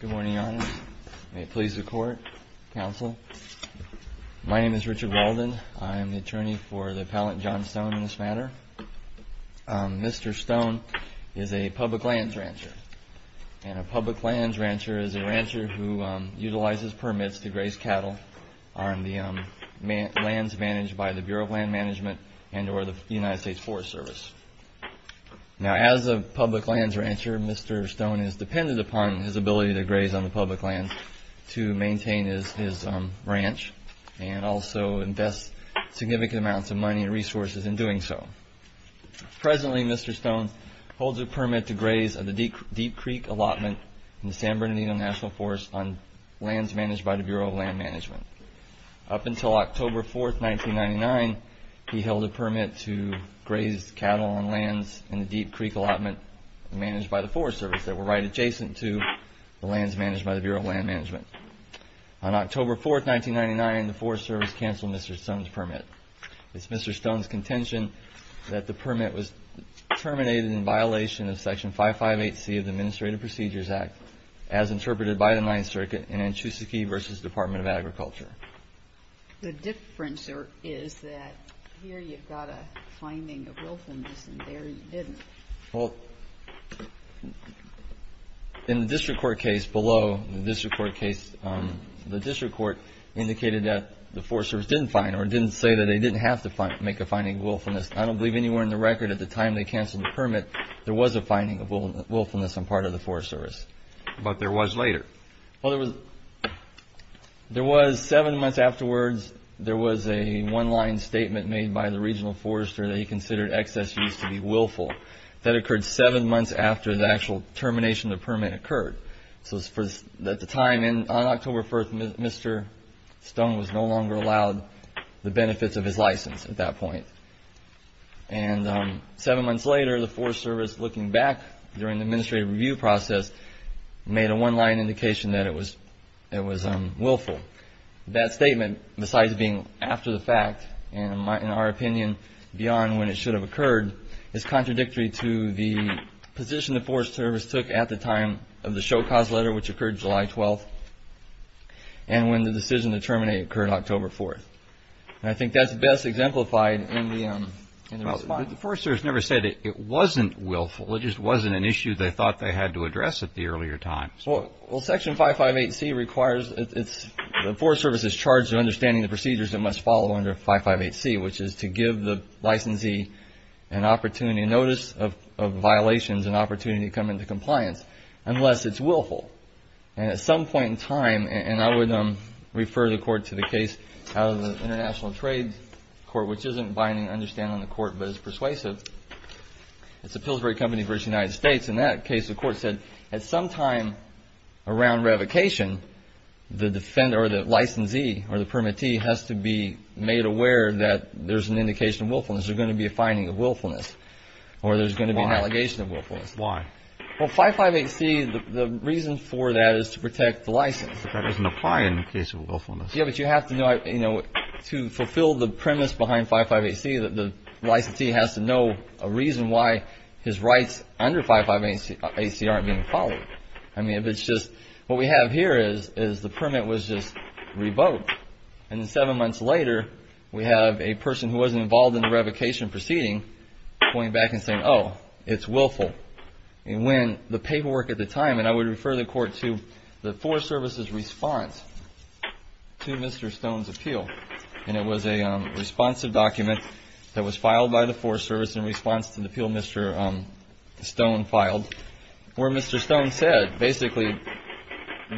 Good morning, Your Honors. May it please the Court, Counsel. My name is Richard Walden. I am the attorney for the Appellant John Stone in this matter. Mr. Stone is a public lands rancher. And a public lands rancher is a rancher who utilizes permits to graze cattle on the lands managed by the Bureau of Land Management and or the United States Forest Service. Now as a public lands rancher, Mr. Stone is dependent upon his ability to graze on the public lands to maintain his ranch and also invest significant amounts of money and resources in doing so. Presently, Mr. Stone holds a permit to graze on the Deep Creek allotment in the San Bernardino National Forest on lands managed by the Bureau of Land Management. Up until October 4, 1999, he held a permit to graze cattle on lands in the Deep Creek allotment managed by the Forest Service that were right adjacent to the lands managed by the Bureau of Land Management. On October 4, 1999, the Forest Service canceled Mr. Stone's permit. It's Mr. Stone's contention that the permit was terminated in violation of Section 558C of the Administrative Procedures Act as interpreted by the Ninth Circuit in Anchusakee v. Department of Agriculture. The difference is that here you've got a finding of wilfulness and there you didn't. Well, in the district court case below, the district court indicated that the Forest Service didn't find or didn't say that they didn't have to make a finding of wilfulness. I don't believe anywhere in the record at the time they canceled the permit there was a finding of wilfulness on part of the Forest Service. But there was later. Well, there was seven months afterwards, there was a one-line statement made by the regional forester that he considered excess use to be willful. That occurred seven months after the actual termination of the permit occurred. So at the time, on October 1, Mr. Stone was no longer allowed the benefits of his license at that point. And seven months later, the Forest Service, looking back during the administrative review process, made a one-line indication that it was willful. That statement, besides being after the fact, and in our opinion, beyond when it should have occurred, is contradictory to the position the Forest Service took at the time of the Show Cause letter, which occurred July 12, and when the decision to terminate occurred October 4. And I think that's best exemplified in the response. But the Forest Service never said it wasn't willful. It just wasn't an issue they thought they had to address at the earlier time. Well, Section 558C requires, the Forest Service is charged with understanding the procedures that must follow under 558C, which is to give the licensee an opportunity, a notice of violations, an opportunity to come into compliance, unless it's willful. And at some point in time, and I would refer the Court to the case out of the International Trade Court, which isn't binding understanding on the Court, but is persuasive, it's the Pillsbury Company v. United States. In that case, the Court said, at some time around revocation, the defender or the licensee or the permittee has to be made aware that there's an indication of willfulness. There's going to be a finding of willfulness, or there's going to be an allegation of willfulness. Why? Well, 558C, the reason for that is to protect the license. But that doesn't apply in the case of willfulness. Yeah, but you have to know, you know, to fulfill the premise behind 558C, the licensee has to know a reason why his rights under 558C aren't being followed. I mean, if it's just, what we have here is the permit was just revoked. And then seven months later, we have a person who wasn't involved in the revocation proceeding pointing back and saying, oh, it's willful. And when the paperwork at the time, and I would refer the Court to the Forest Service's response to Mr. Stone's appeal, and it was a responsive document that was filed by the Forest Service in response to the appeal Mr. Stone filed, where Mr. Stone said, basically,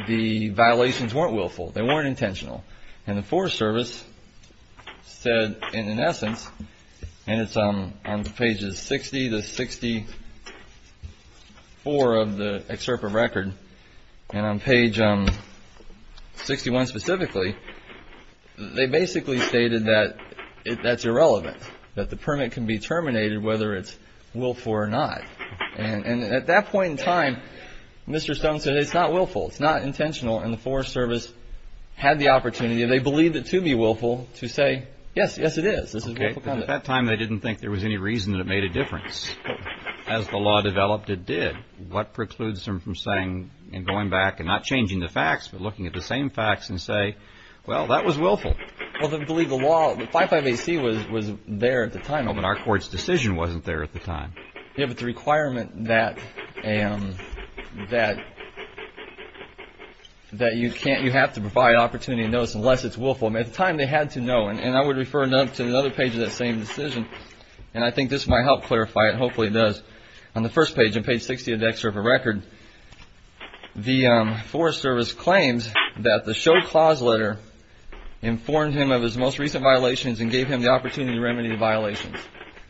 the violations weren't willful, they weren't intentional. And the Forest Service said, in essence, and it's on pages 60 to 64 of the excerpt of record, and on page 61 specifically, they basically stated that that's irrelevant, that the permit can be terminated whether it's willful or not. And at that point in time, Mr. Stone said it's not willful, it's not intentional, and the Forest Service had the opportunity, and they believed it to be willful, to say, yes, yes it is. This is willful conduct. Okay, but at that time, they didn't think there was any reason that it made a difference. As the law developed, it did. What precludes them from saying, and going back and not changing the facts, but looking at the same facts and say, well, that was willful. Well, the legal law, the 55AC was there at the time. Oh, but our Court's decision wasn't there at the time. You have the requirement that you have to provide opportunity of notice unless it's willful. At the time, they had to know, and I would refer to another page of that same decision, and I think this might help clarify it, and hopefully it does. On the first page, on page 60 of the excerpt of record, the Forest Service claims that the show clause letter informed him of his most recent violations and gave him the opportunity to remedy the violations.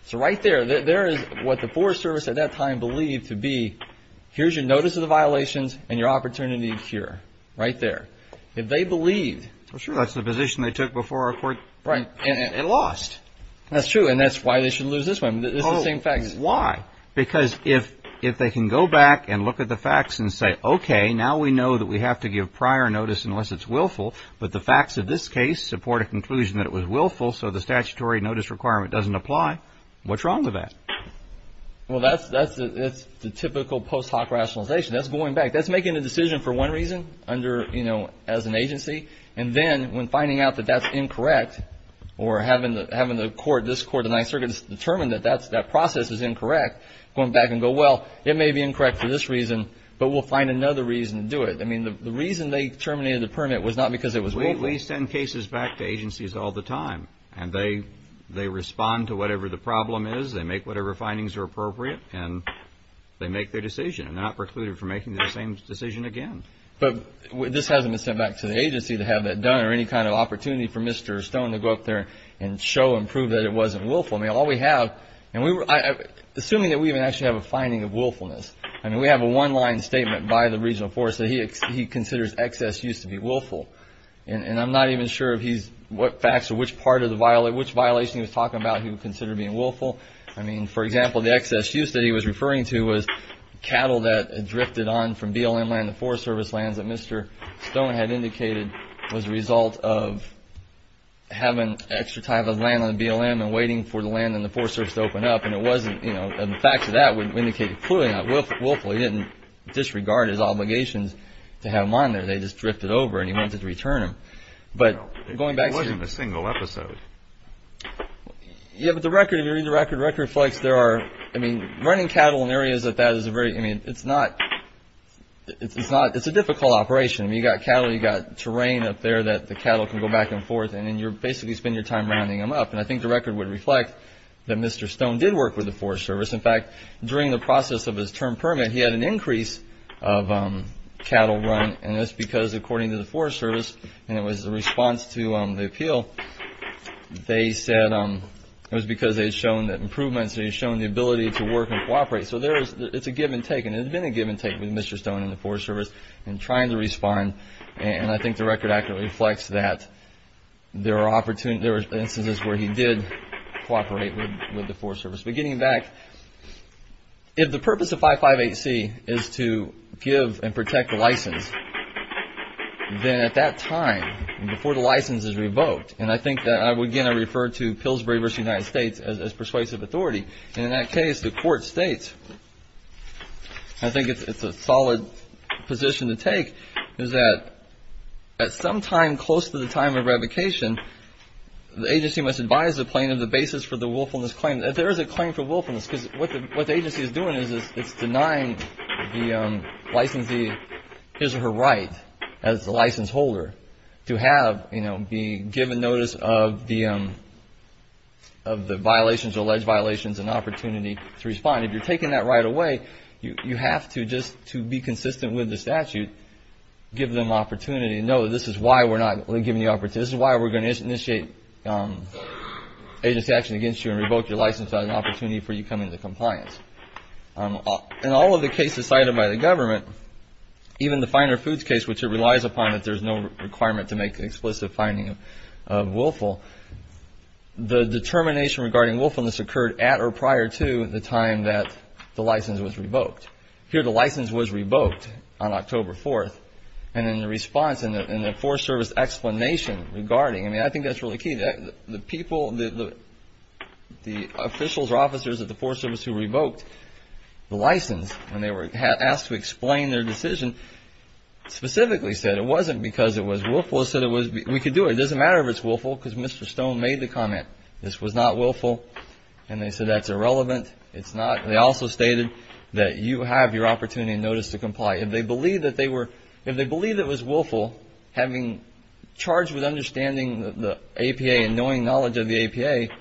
So right there, there is what the Forest Service at that time believed to be, here's your notice of the violations and your opportunity to cure, right there. If they believed. Well, sure, that's the position they took before our Court. Right. And lost. That's true, and that's why they should lose this one. It's the same facts. Why? Because if they can go back and look at the facts and say, okay, now we know that we have to give prior notice unless it's willful, but the facts of this case support a conclusion that it was willful, so the statutory notice requirement doesn't apply. What's wrong with that? Well, that's the typical post hoc rationalization. That's going back. That's making a decision for one reason as an agency, and then when finding out that that's incorrect or having this Court of the Ninth Circuit determine that that process is incorrect, going back and go, well, it may be incorrect for this reason, but we'll find another reason to do it. I mean, the reason they terminated the permit was not because it was willful. Well, we send cases back to agencies all the time, and they respond to whatever the problem is, they make whatever findings are appropriate, and they make their decision and they're not precluded from making the same decision again. But this hasn't been sent back to the agency to have that done or any kind of opportunity for Mr. Stone to go up there and show and prove that it wasn't willful. I mean, all we have, and assuming that we even actually have a finding of willfulness, I mean, we have a one-line statement by the regional forester, so he considers excess use to be willful, and I'm not even sure what facts or which part of the violation he was talking about he would consider being willful. I mean, for example, the excess use that he was referring to was cattle that drifted on from BLM land to Forest Service lands that Mr. Stone had indicated was a result of having extra type of land on the BLM and waiting for the land on the Forest Service to open up, and the facts of that would indicate it clearly not willful. He didn't disregard his obligations to have them on there. They just drifted over and he wanted to return them. It wasn't a single episode. Yeah, but the record reflects there are, I mean, running cattle in areas like that is a very, I mean, it's not, it's a difficult operation. You've got cattle, you've got terrain up there that the cattle can go back and forth in, and you basically spend your time rounding them up, and I think the record would reflect that Mr. Stone did work with the Forest Service. In fact, during the process of his term permit, he had an increase of cattle run, and that's because according to the Forest Service, and it was the response to the appeal, they said it was because they had shown that improvements, they had shown the ability to work and cooperate. So it's a give and take, and it's been a give and take with Mr. Stone and the Forest Service in trying to respond, and I think the record actually reflects that. There were instances where he did cooperate with the Forest Service. But getting back, if the purpose of 558C is to give and protect the license, then at that time, before the license is revoked, and I think that I would again refer to Pillsbury v. United States as persuasive authority, and in that case, the court states, and I think it's a solid position to take, is that at some time close to the time of revocation, the agency must advise the plaintiff the basis for the willfulness claim. And there is a claim for willfulness, because what the agency is doing is it's denying the licensee his or her right as the license holder to have, you know, be given notice of the violations, alleged violations, and opportunity to respond. If you're taking that right away, you have to just, to be consistent with the statute, give them opportunity, and know this is why we're not giving the opportunity, this is why we're going to initiate agency action against you and revoke your license as an opportunity for you to come into compliance. In all of the cases cited by the government, even the finer foods case, which it relies upon that there's no requirement to make an explicit finding of willful, the determination regarding willfulness occurred at or prior to the time that the license was revoked. Here the license was revoked on October 4th, and in the response and the Forest Service explanation regarding, I mean, I think that's really key. The people, the officials or officers at the Forest Service who revoked the license when they were asked to explain their decision specifically said it wasn't because it was willful, it said it was, we could do it, it doesn't matter if it's willful, because Mr. Stone made the comment, this was not willful, and they said that's irrelevant, it's not. They also stated that you have your opportunity and notice to comply. If they believed that it was willful, having charged with understanding the APA and knowing knowledge of the APA,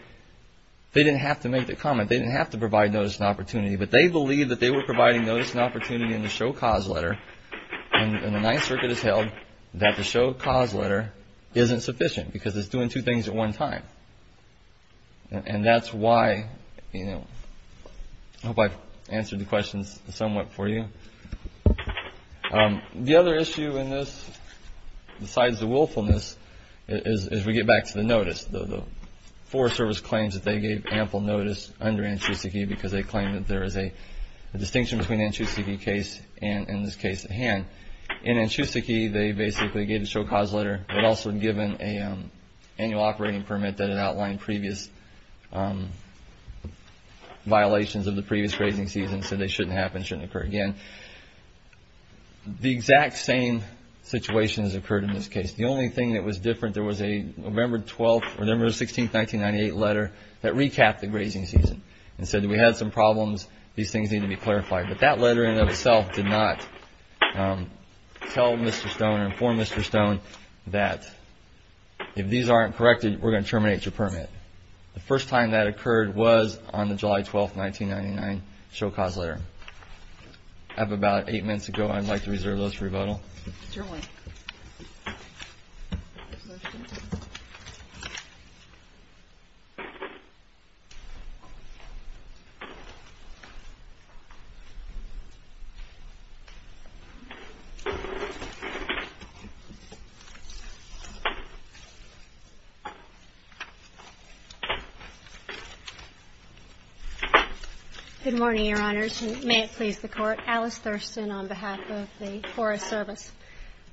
they didn't have to make the comment, they didn't have to provide notice and opportunity, but they believed that they were providing notice and opportunity in the show cause letter, and the Ninth Circuit has held that the show cause letter isn't sufficient because it's doing two things at one time. And that's why, you know, I hope I've answered the questions somewhat for you. The other issue in this, besides the willfulness, is we get back to the notice. The Forest Service claims that they gave ample notice under Anchusakee because they claim that there is a distinction between an Anchusakee case and this case at hand. In Anchusakee, they basically gave a show cause letter, but also given an annual operating permit that outlined previous violations of the previous grazing season, so they shouldn't happen, shouldn't occur again. The exact same situation has occurred in this case. The only thing that was different, there was a November 12th or November 16th, 1998 letter that recapped the grazing season and said that we had some problems, these things need to be clarified. But that letter in and of itself did not tell Mr. Stone or inform Mr. Stone that if these aren't corrected, we're going to terminate your permit. The first time that occurred was on the July 12th, 1999 show cause letter. I have about eight minutes to go. I'd like to reserve those for rebuttal. Ms. Thurston. Good morning, Your Honors, and may it please the Court. I'm Alice Thurston on behalf of the Forest Service.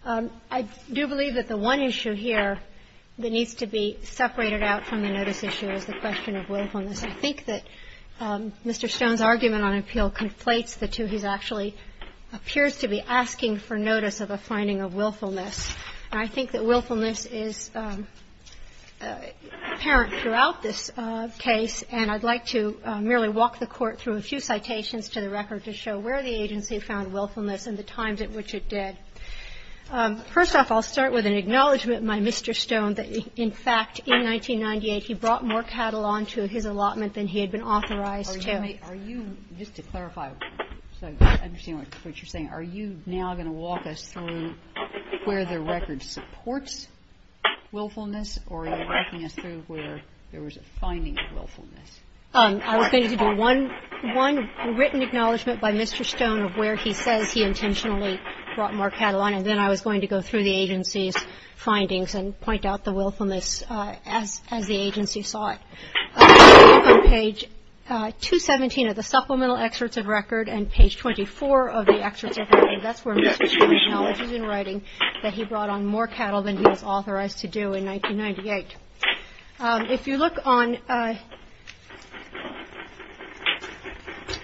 I do believe that the one issue here that needs to be separated out from the notice issue is the question of willfulness. I think that Mr. Stone's argument on appeal conflates the two. He actually appears to be asking for notice of a finding of willfulness. I think that willfulness is apparent throughout this case, and I'd like to merely walk the Court through a few citations to the record to show where the agency found willfulness and the times at which it did. First off, I'll start with an acknowledgment, my Mr. Stone, that, in fact, in 1998 he brought more cattle onto his allotment than he had been authorized to. Are you, just to clarify, so I understand what you're saying, are you now going to walk us through where the record supports willfulness, or are you walking us through where there was a finding of willfulness? I was going to do one written acknowledgment by Mr. Stone of where he says he intentionally brought more cattle on, and then I was going to go through the agency's findings and point out the willfulness as the agency saw it. On page 217 of the supplemental excerpts of record and page 24 of the excerpts of record, that's where Mr. Stone acknowledges in writing that he brought on more cattle than he was authorized to do in 1998. If you look on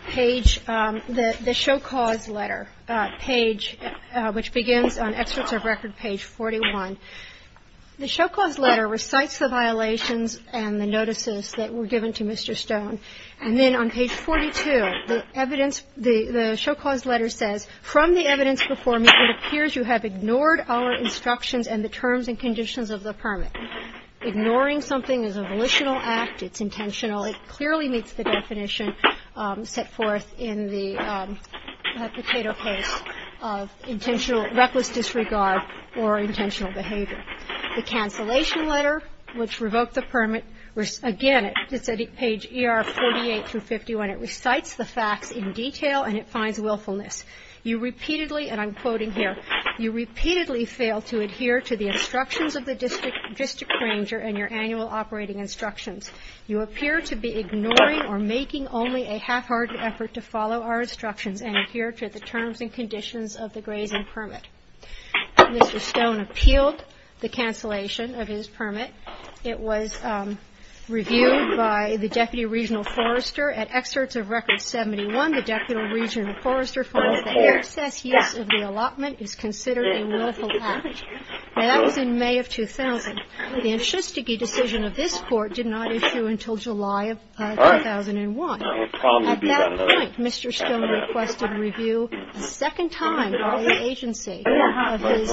page, the show cause letter page, which begins on excerpts of record page 41, the show cause letter recites the violations and the notices that were given to Mr. Stone. And then on page 42, the evidence, the show cause letter says, from the evidence before me it appears you have ignored our instructions and the terms and conditions of the permit. Ignoring something is a volitional act. It's intentional. It clearly meets the definition set forth in the potato case of intentional, reckless disregard or intentional behavior. The cancellation letter, which revoked the permit, again, it's on page 48 through 51, it recites the facts in detail and it finds willfulness. You repeatedly, and I'm quoting here, you repeatedly fail to adhere to the instructions of the district ranger and your annual operating instructions. You appear to be ignoring or making only a half-hearted effort to follow our instructions and adhere to the terms and conditions of the grazing permit. Mr. Stone appealed the cancellation of his permit. It was reviewed by the deputy regional forester at excerpts of record 71. The deputy regional forester finds that excess use of the allotment is considered a willful act. Now, that was in May of 2000. The Nschustige decision of this Court did not issue until July of 2001. At that point, Mr. Stone requested review a second time by the agency of his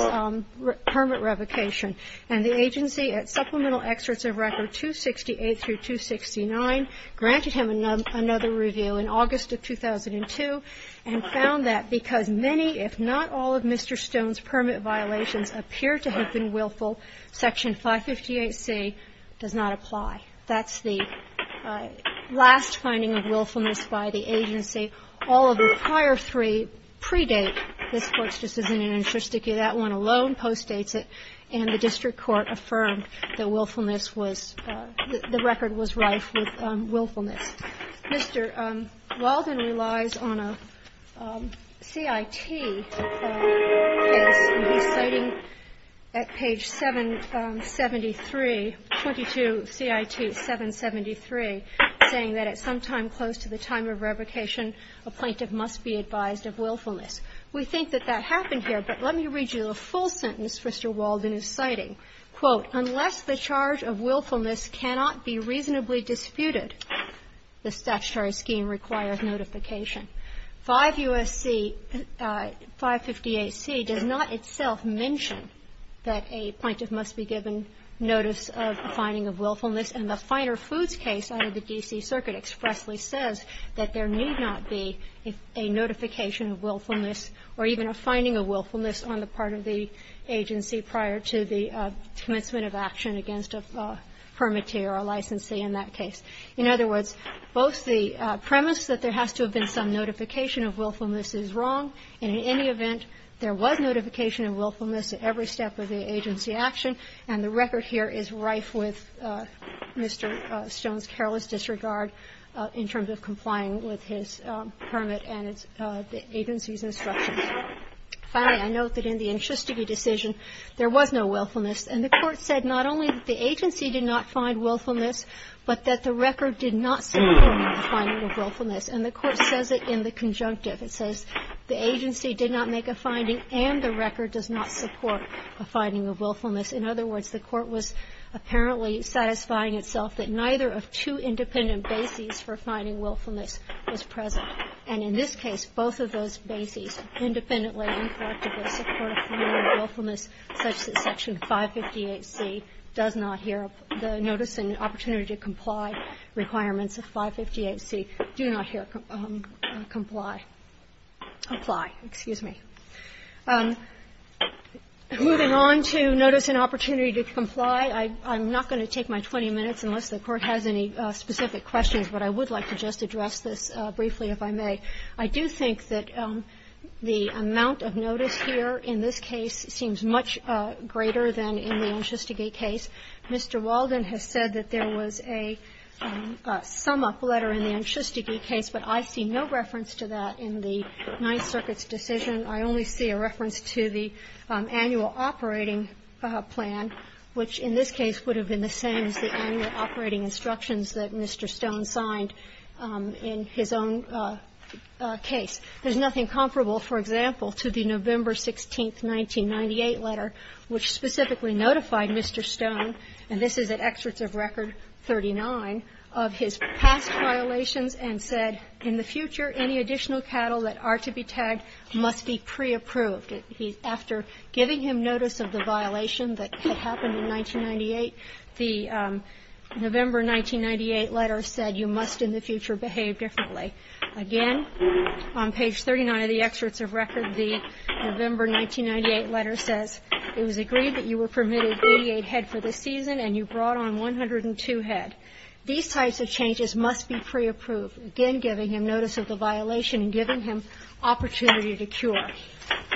permit revocation. And the agency, at supplemental excerpts of record 268 through 269, granted him another review in August of 2002 and found that because many, if not all, of Mr. Stone's permit violations appear to have been willful, Section 558C does not apply. That's the last finding of willfulness by the agency. All of the prior three predate this Court's decision in Nschustige. That one alone postdates it. And the district court affirmed that willfulness was the record was rife with willfulness. Mr. Walden relies on a CIT case, and he's citing at page 773, 22 CIT 773, saying that at some time close to the time of revocation, a plaintiff must be advised of willfulness. We think that that happened here, but let me read you the full sentence Mr. Walden is citing. Quote, unless the charge of willfulness cannot be reasonably disputed, the statutory scheme requires notification. 558C does not itself mention that a plaintiff must be given notice of a finding of willfulness, and the Finer Foods case out of the D.C. Circuit expressly says that there need not be a notification of willfulness or even a finding of willfulness on the part of the agency prior to the commencement of action against a permittee or a licensee in that case. In other words, both the premise that there has to have been some notification of willfulness is wrong, and in any event, there was notification of willfulness at every step of the agency action, and the record here is rife with Mr. Stone's careless disregard in terms of complying with his permit and the agency's instructions. Finally, I note that in the Enchustigee decision, there was no willfulness. And the Court said not only that the agency did not find willfulness, but that the record did not support the finding of willfulness, and the Court says it in the conjunctive. It says the agency did not make a finding and the record does not support a finding of willfulness. In other words, the Court was apparently satisfying itself that neither of two independent bases for finding willfulness was present. And in this case, both of those bases independently and correctively support a finding of willfulness, such that Section 558C does not hear the notice and opportunity to comply requirements of 558C do not hear comply. Apply. Excuse me. Moving on to notice and opportunity to comply, I'm not going to take my 20 minutes unless the Court has any specific questions, but I would like to just address this briefly, if I may. I do think that the amount of notice here in this case seems much greater than in the Enchustigee case. Mr. Walden has said that there was a sum-up letter in the Enchustigee case, but I see no reference to that in the Ninth Circuit's decision. I only see a reference to the annual operating plan, which in this case would have been the same as the annual operating instructions that Mr. Stone signed in his own case. There's nothing comparable, for example, to the November 16, 1998 letter, which specifically notified Mr. Stone, and this is at excerpts of Record 39, of his past violations and said, in the future, any additional cattle that are to be tagged must be pre-approved. After giving him notice of the violation that had happened in 1998, the November 1998 letter said, you must in the future behave differently. Again, on page 39 of the excerpts of Record, the November 1998 letter says, it was agreed that you were permitted 88 head for the season, and you brought on 102 head. These types of changes must be pre-approved, again, giving him notice of the violation and giving him opportunity to cure.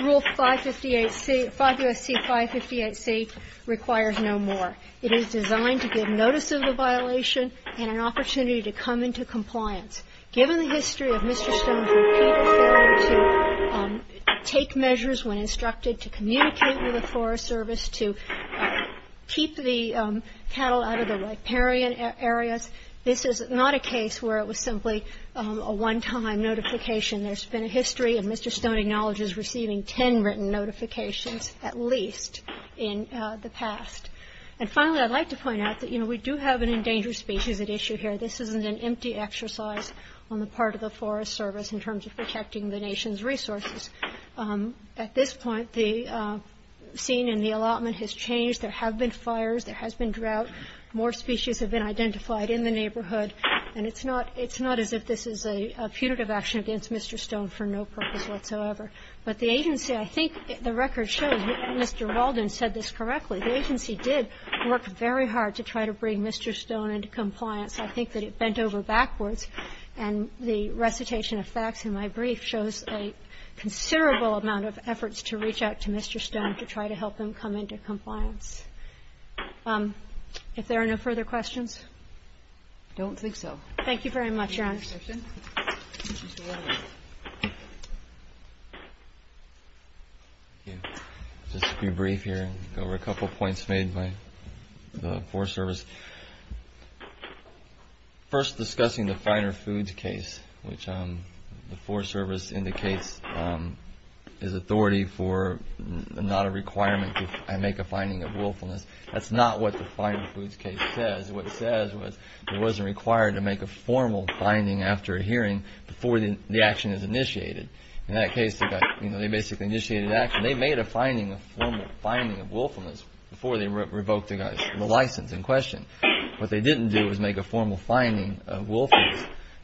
Rule 558C, 5 U.S.C. 558C, requires no more. It is designed to give notice of the violation and an opportunity to come into compliance. Given the history of Mr. Stone's repeated failure to take measures when instructed to communicate with the Forest Service to keep the cattle out of the riparian areas, this is not a case where it was simply a one-time notification. There's been a history of Mr. Stone acknowledges receiving 10 written notifications, at least, in the past. And finally, I'd like to point out that, you know, we do have an endangered species at issue here. This isn't an empty exercise on the part of the Forest Service in terms of protecting the nation's resources. At this point, the scene in the allotment has changed. There have been fires. There has been drought. More species have been identified in the neighborhood. And it's not as if this is a punitive action against Mr. Stone for no purpose whatsoever. But the agency, I think the record shows Mr. Walden said this correctly. The agency did work very hard to try to bring Mr. Stone into compliance. I think that it bent over backwards. And the recitation of facts in my brief shows a considerable amount of efforts to reach out to Mr. Stone to try to help him come into compliance. If there are no further questions? I don't think so. Thank you very much, Your Honor. Thank you, Mr. Walden. Thank you. Just to be brief here and go over a couple points made by the Forest Service. First, discussing the finer foods case, which the Forest Service indicates is authority for not a requirement to make a finding of willfulness. That's not what the finer foods case says. What it says was it wasn't required to make a formal finding after a hearing before the action is initiated. In that case, they basically initiated an action. They made a finding, a formal finding of willfulness before they revoked the license in question. What they didn't do was make a formal finding of willfulness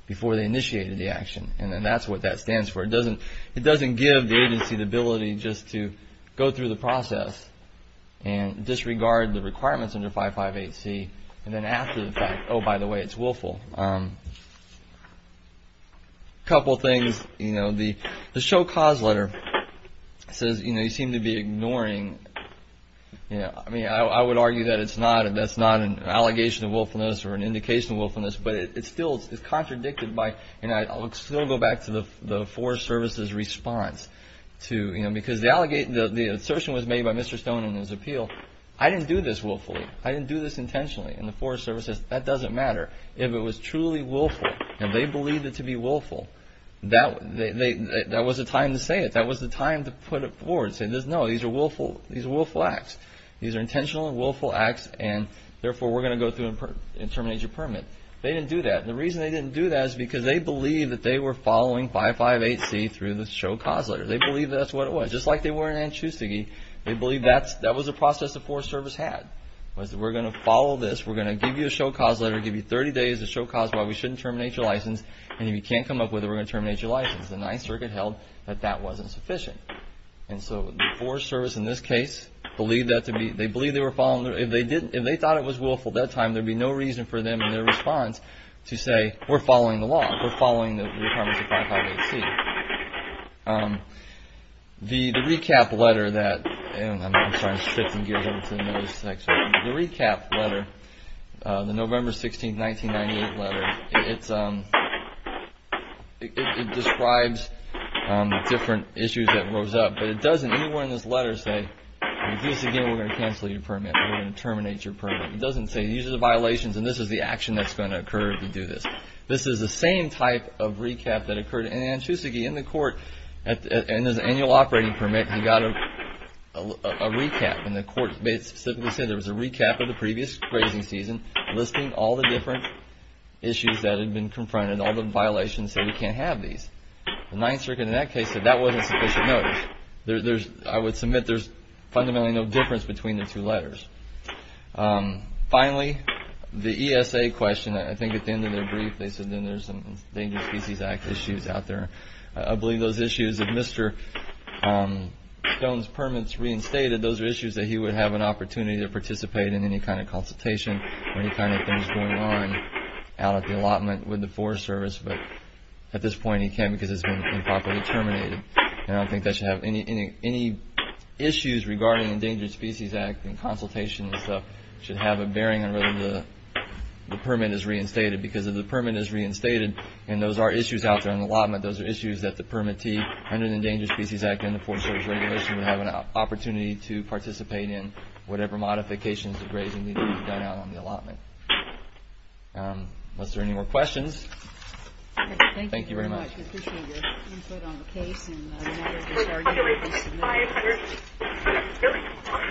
before they initiated the action. And then that's what that stands for. It doesn't give the agency the ability just to go through the process and disregard the requirements under 558C. And then after the fact, oh, by the way, it's willful. A couple things, you know, the show cause letter says, you know, you seem to be ignoring, you know, I mean, I would argue that it's not, that's not an allegation of willfulness or an indication of willfulness. But it still is contradicted by, and I'll still go back to the Forest Service's response to, you know, because the assertion was made by Mr. Stone in his appeal. I didn't do this willfully. I didn't do this intentionally. And the Forest Service says, that doesn't matter. If it was truly willful, and they believed it to be willful, that was the time to say it. That was the time to put it forward and say, no, these are willful, these are willful acts. These are intentional and willful acts, and therefore we're going to go through and terminate your permit. They didn't do that. The reason they didn't do that is because they believed that they were following 558C through the show cause letter. They believed that's what it was. Just like they were in Anchustigee, they believed that was a process the Forest Service had. Was that we're going to follow this, we're going to give you a show cause letter, give you 30 days to show cause why we shouldn't terminate your license, and if you can't come up with it, we're going to terminate your license. The Ninth Circuit held that that wasn't sufficient. And so the Forest Service in this case believed that to be, they believed they were following, if they didn't, if they thought it was willful that time, there'd be no reason for them in their response to say, we're following the law, we're following the requirements of 558C. The recap letter that, I'm sorry, I'm shifting gears over to the next one. The recap letter, the November 16th, 1998 letter, it describes the different issues that rose up, but it doesn't anywhere in this letter say, in Anchustigee we're going to cancel your permit, we're going to terminate your permit. It doesn't say, these are the violations, and this is the action that's going to occur if you do this. This is the same type of recap that occurred in Anchustigee, and the court, and there's an annual operating permit, and you got a recap, and the court specifically said there was a recap of the previous grazing season listing all the different issues that had been confronted, all the violations, said we can't have these. The Ninth Circuit in that case said that wasn't sufficient notice. I would submit there's fundamentally no difference between the two letters. Finally, the ESA question, I think at the end of their brief, they said then there's some Endangered Species Act issues out there. I believe those issues of Mr. Stone's permits reinstated, those are issues that he would have an opportunity to participate in any kind of consultation or any kind of things going on out at the allotment with the Forest Service, but at this point he can't because it's been improperly terminated. I don't think that should have any issues regarding Endangered Species Act and consultation and stuff. It should have a bearing on whether the permit is reinstated because if the permit is reinstated, and those are issues out there in the allotment, those are issues that the permittee under the Endangered Species Act and the Forest Service Regulation would have an opportunity to participate in whatever modifications of grazing need to be done out on the allotment. Unless there are any more questions. Thank you very much. Thank you very much. We appreciate your input on the case. Thank you.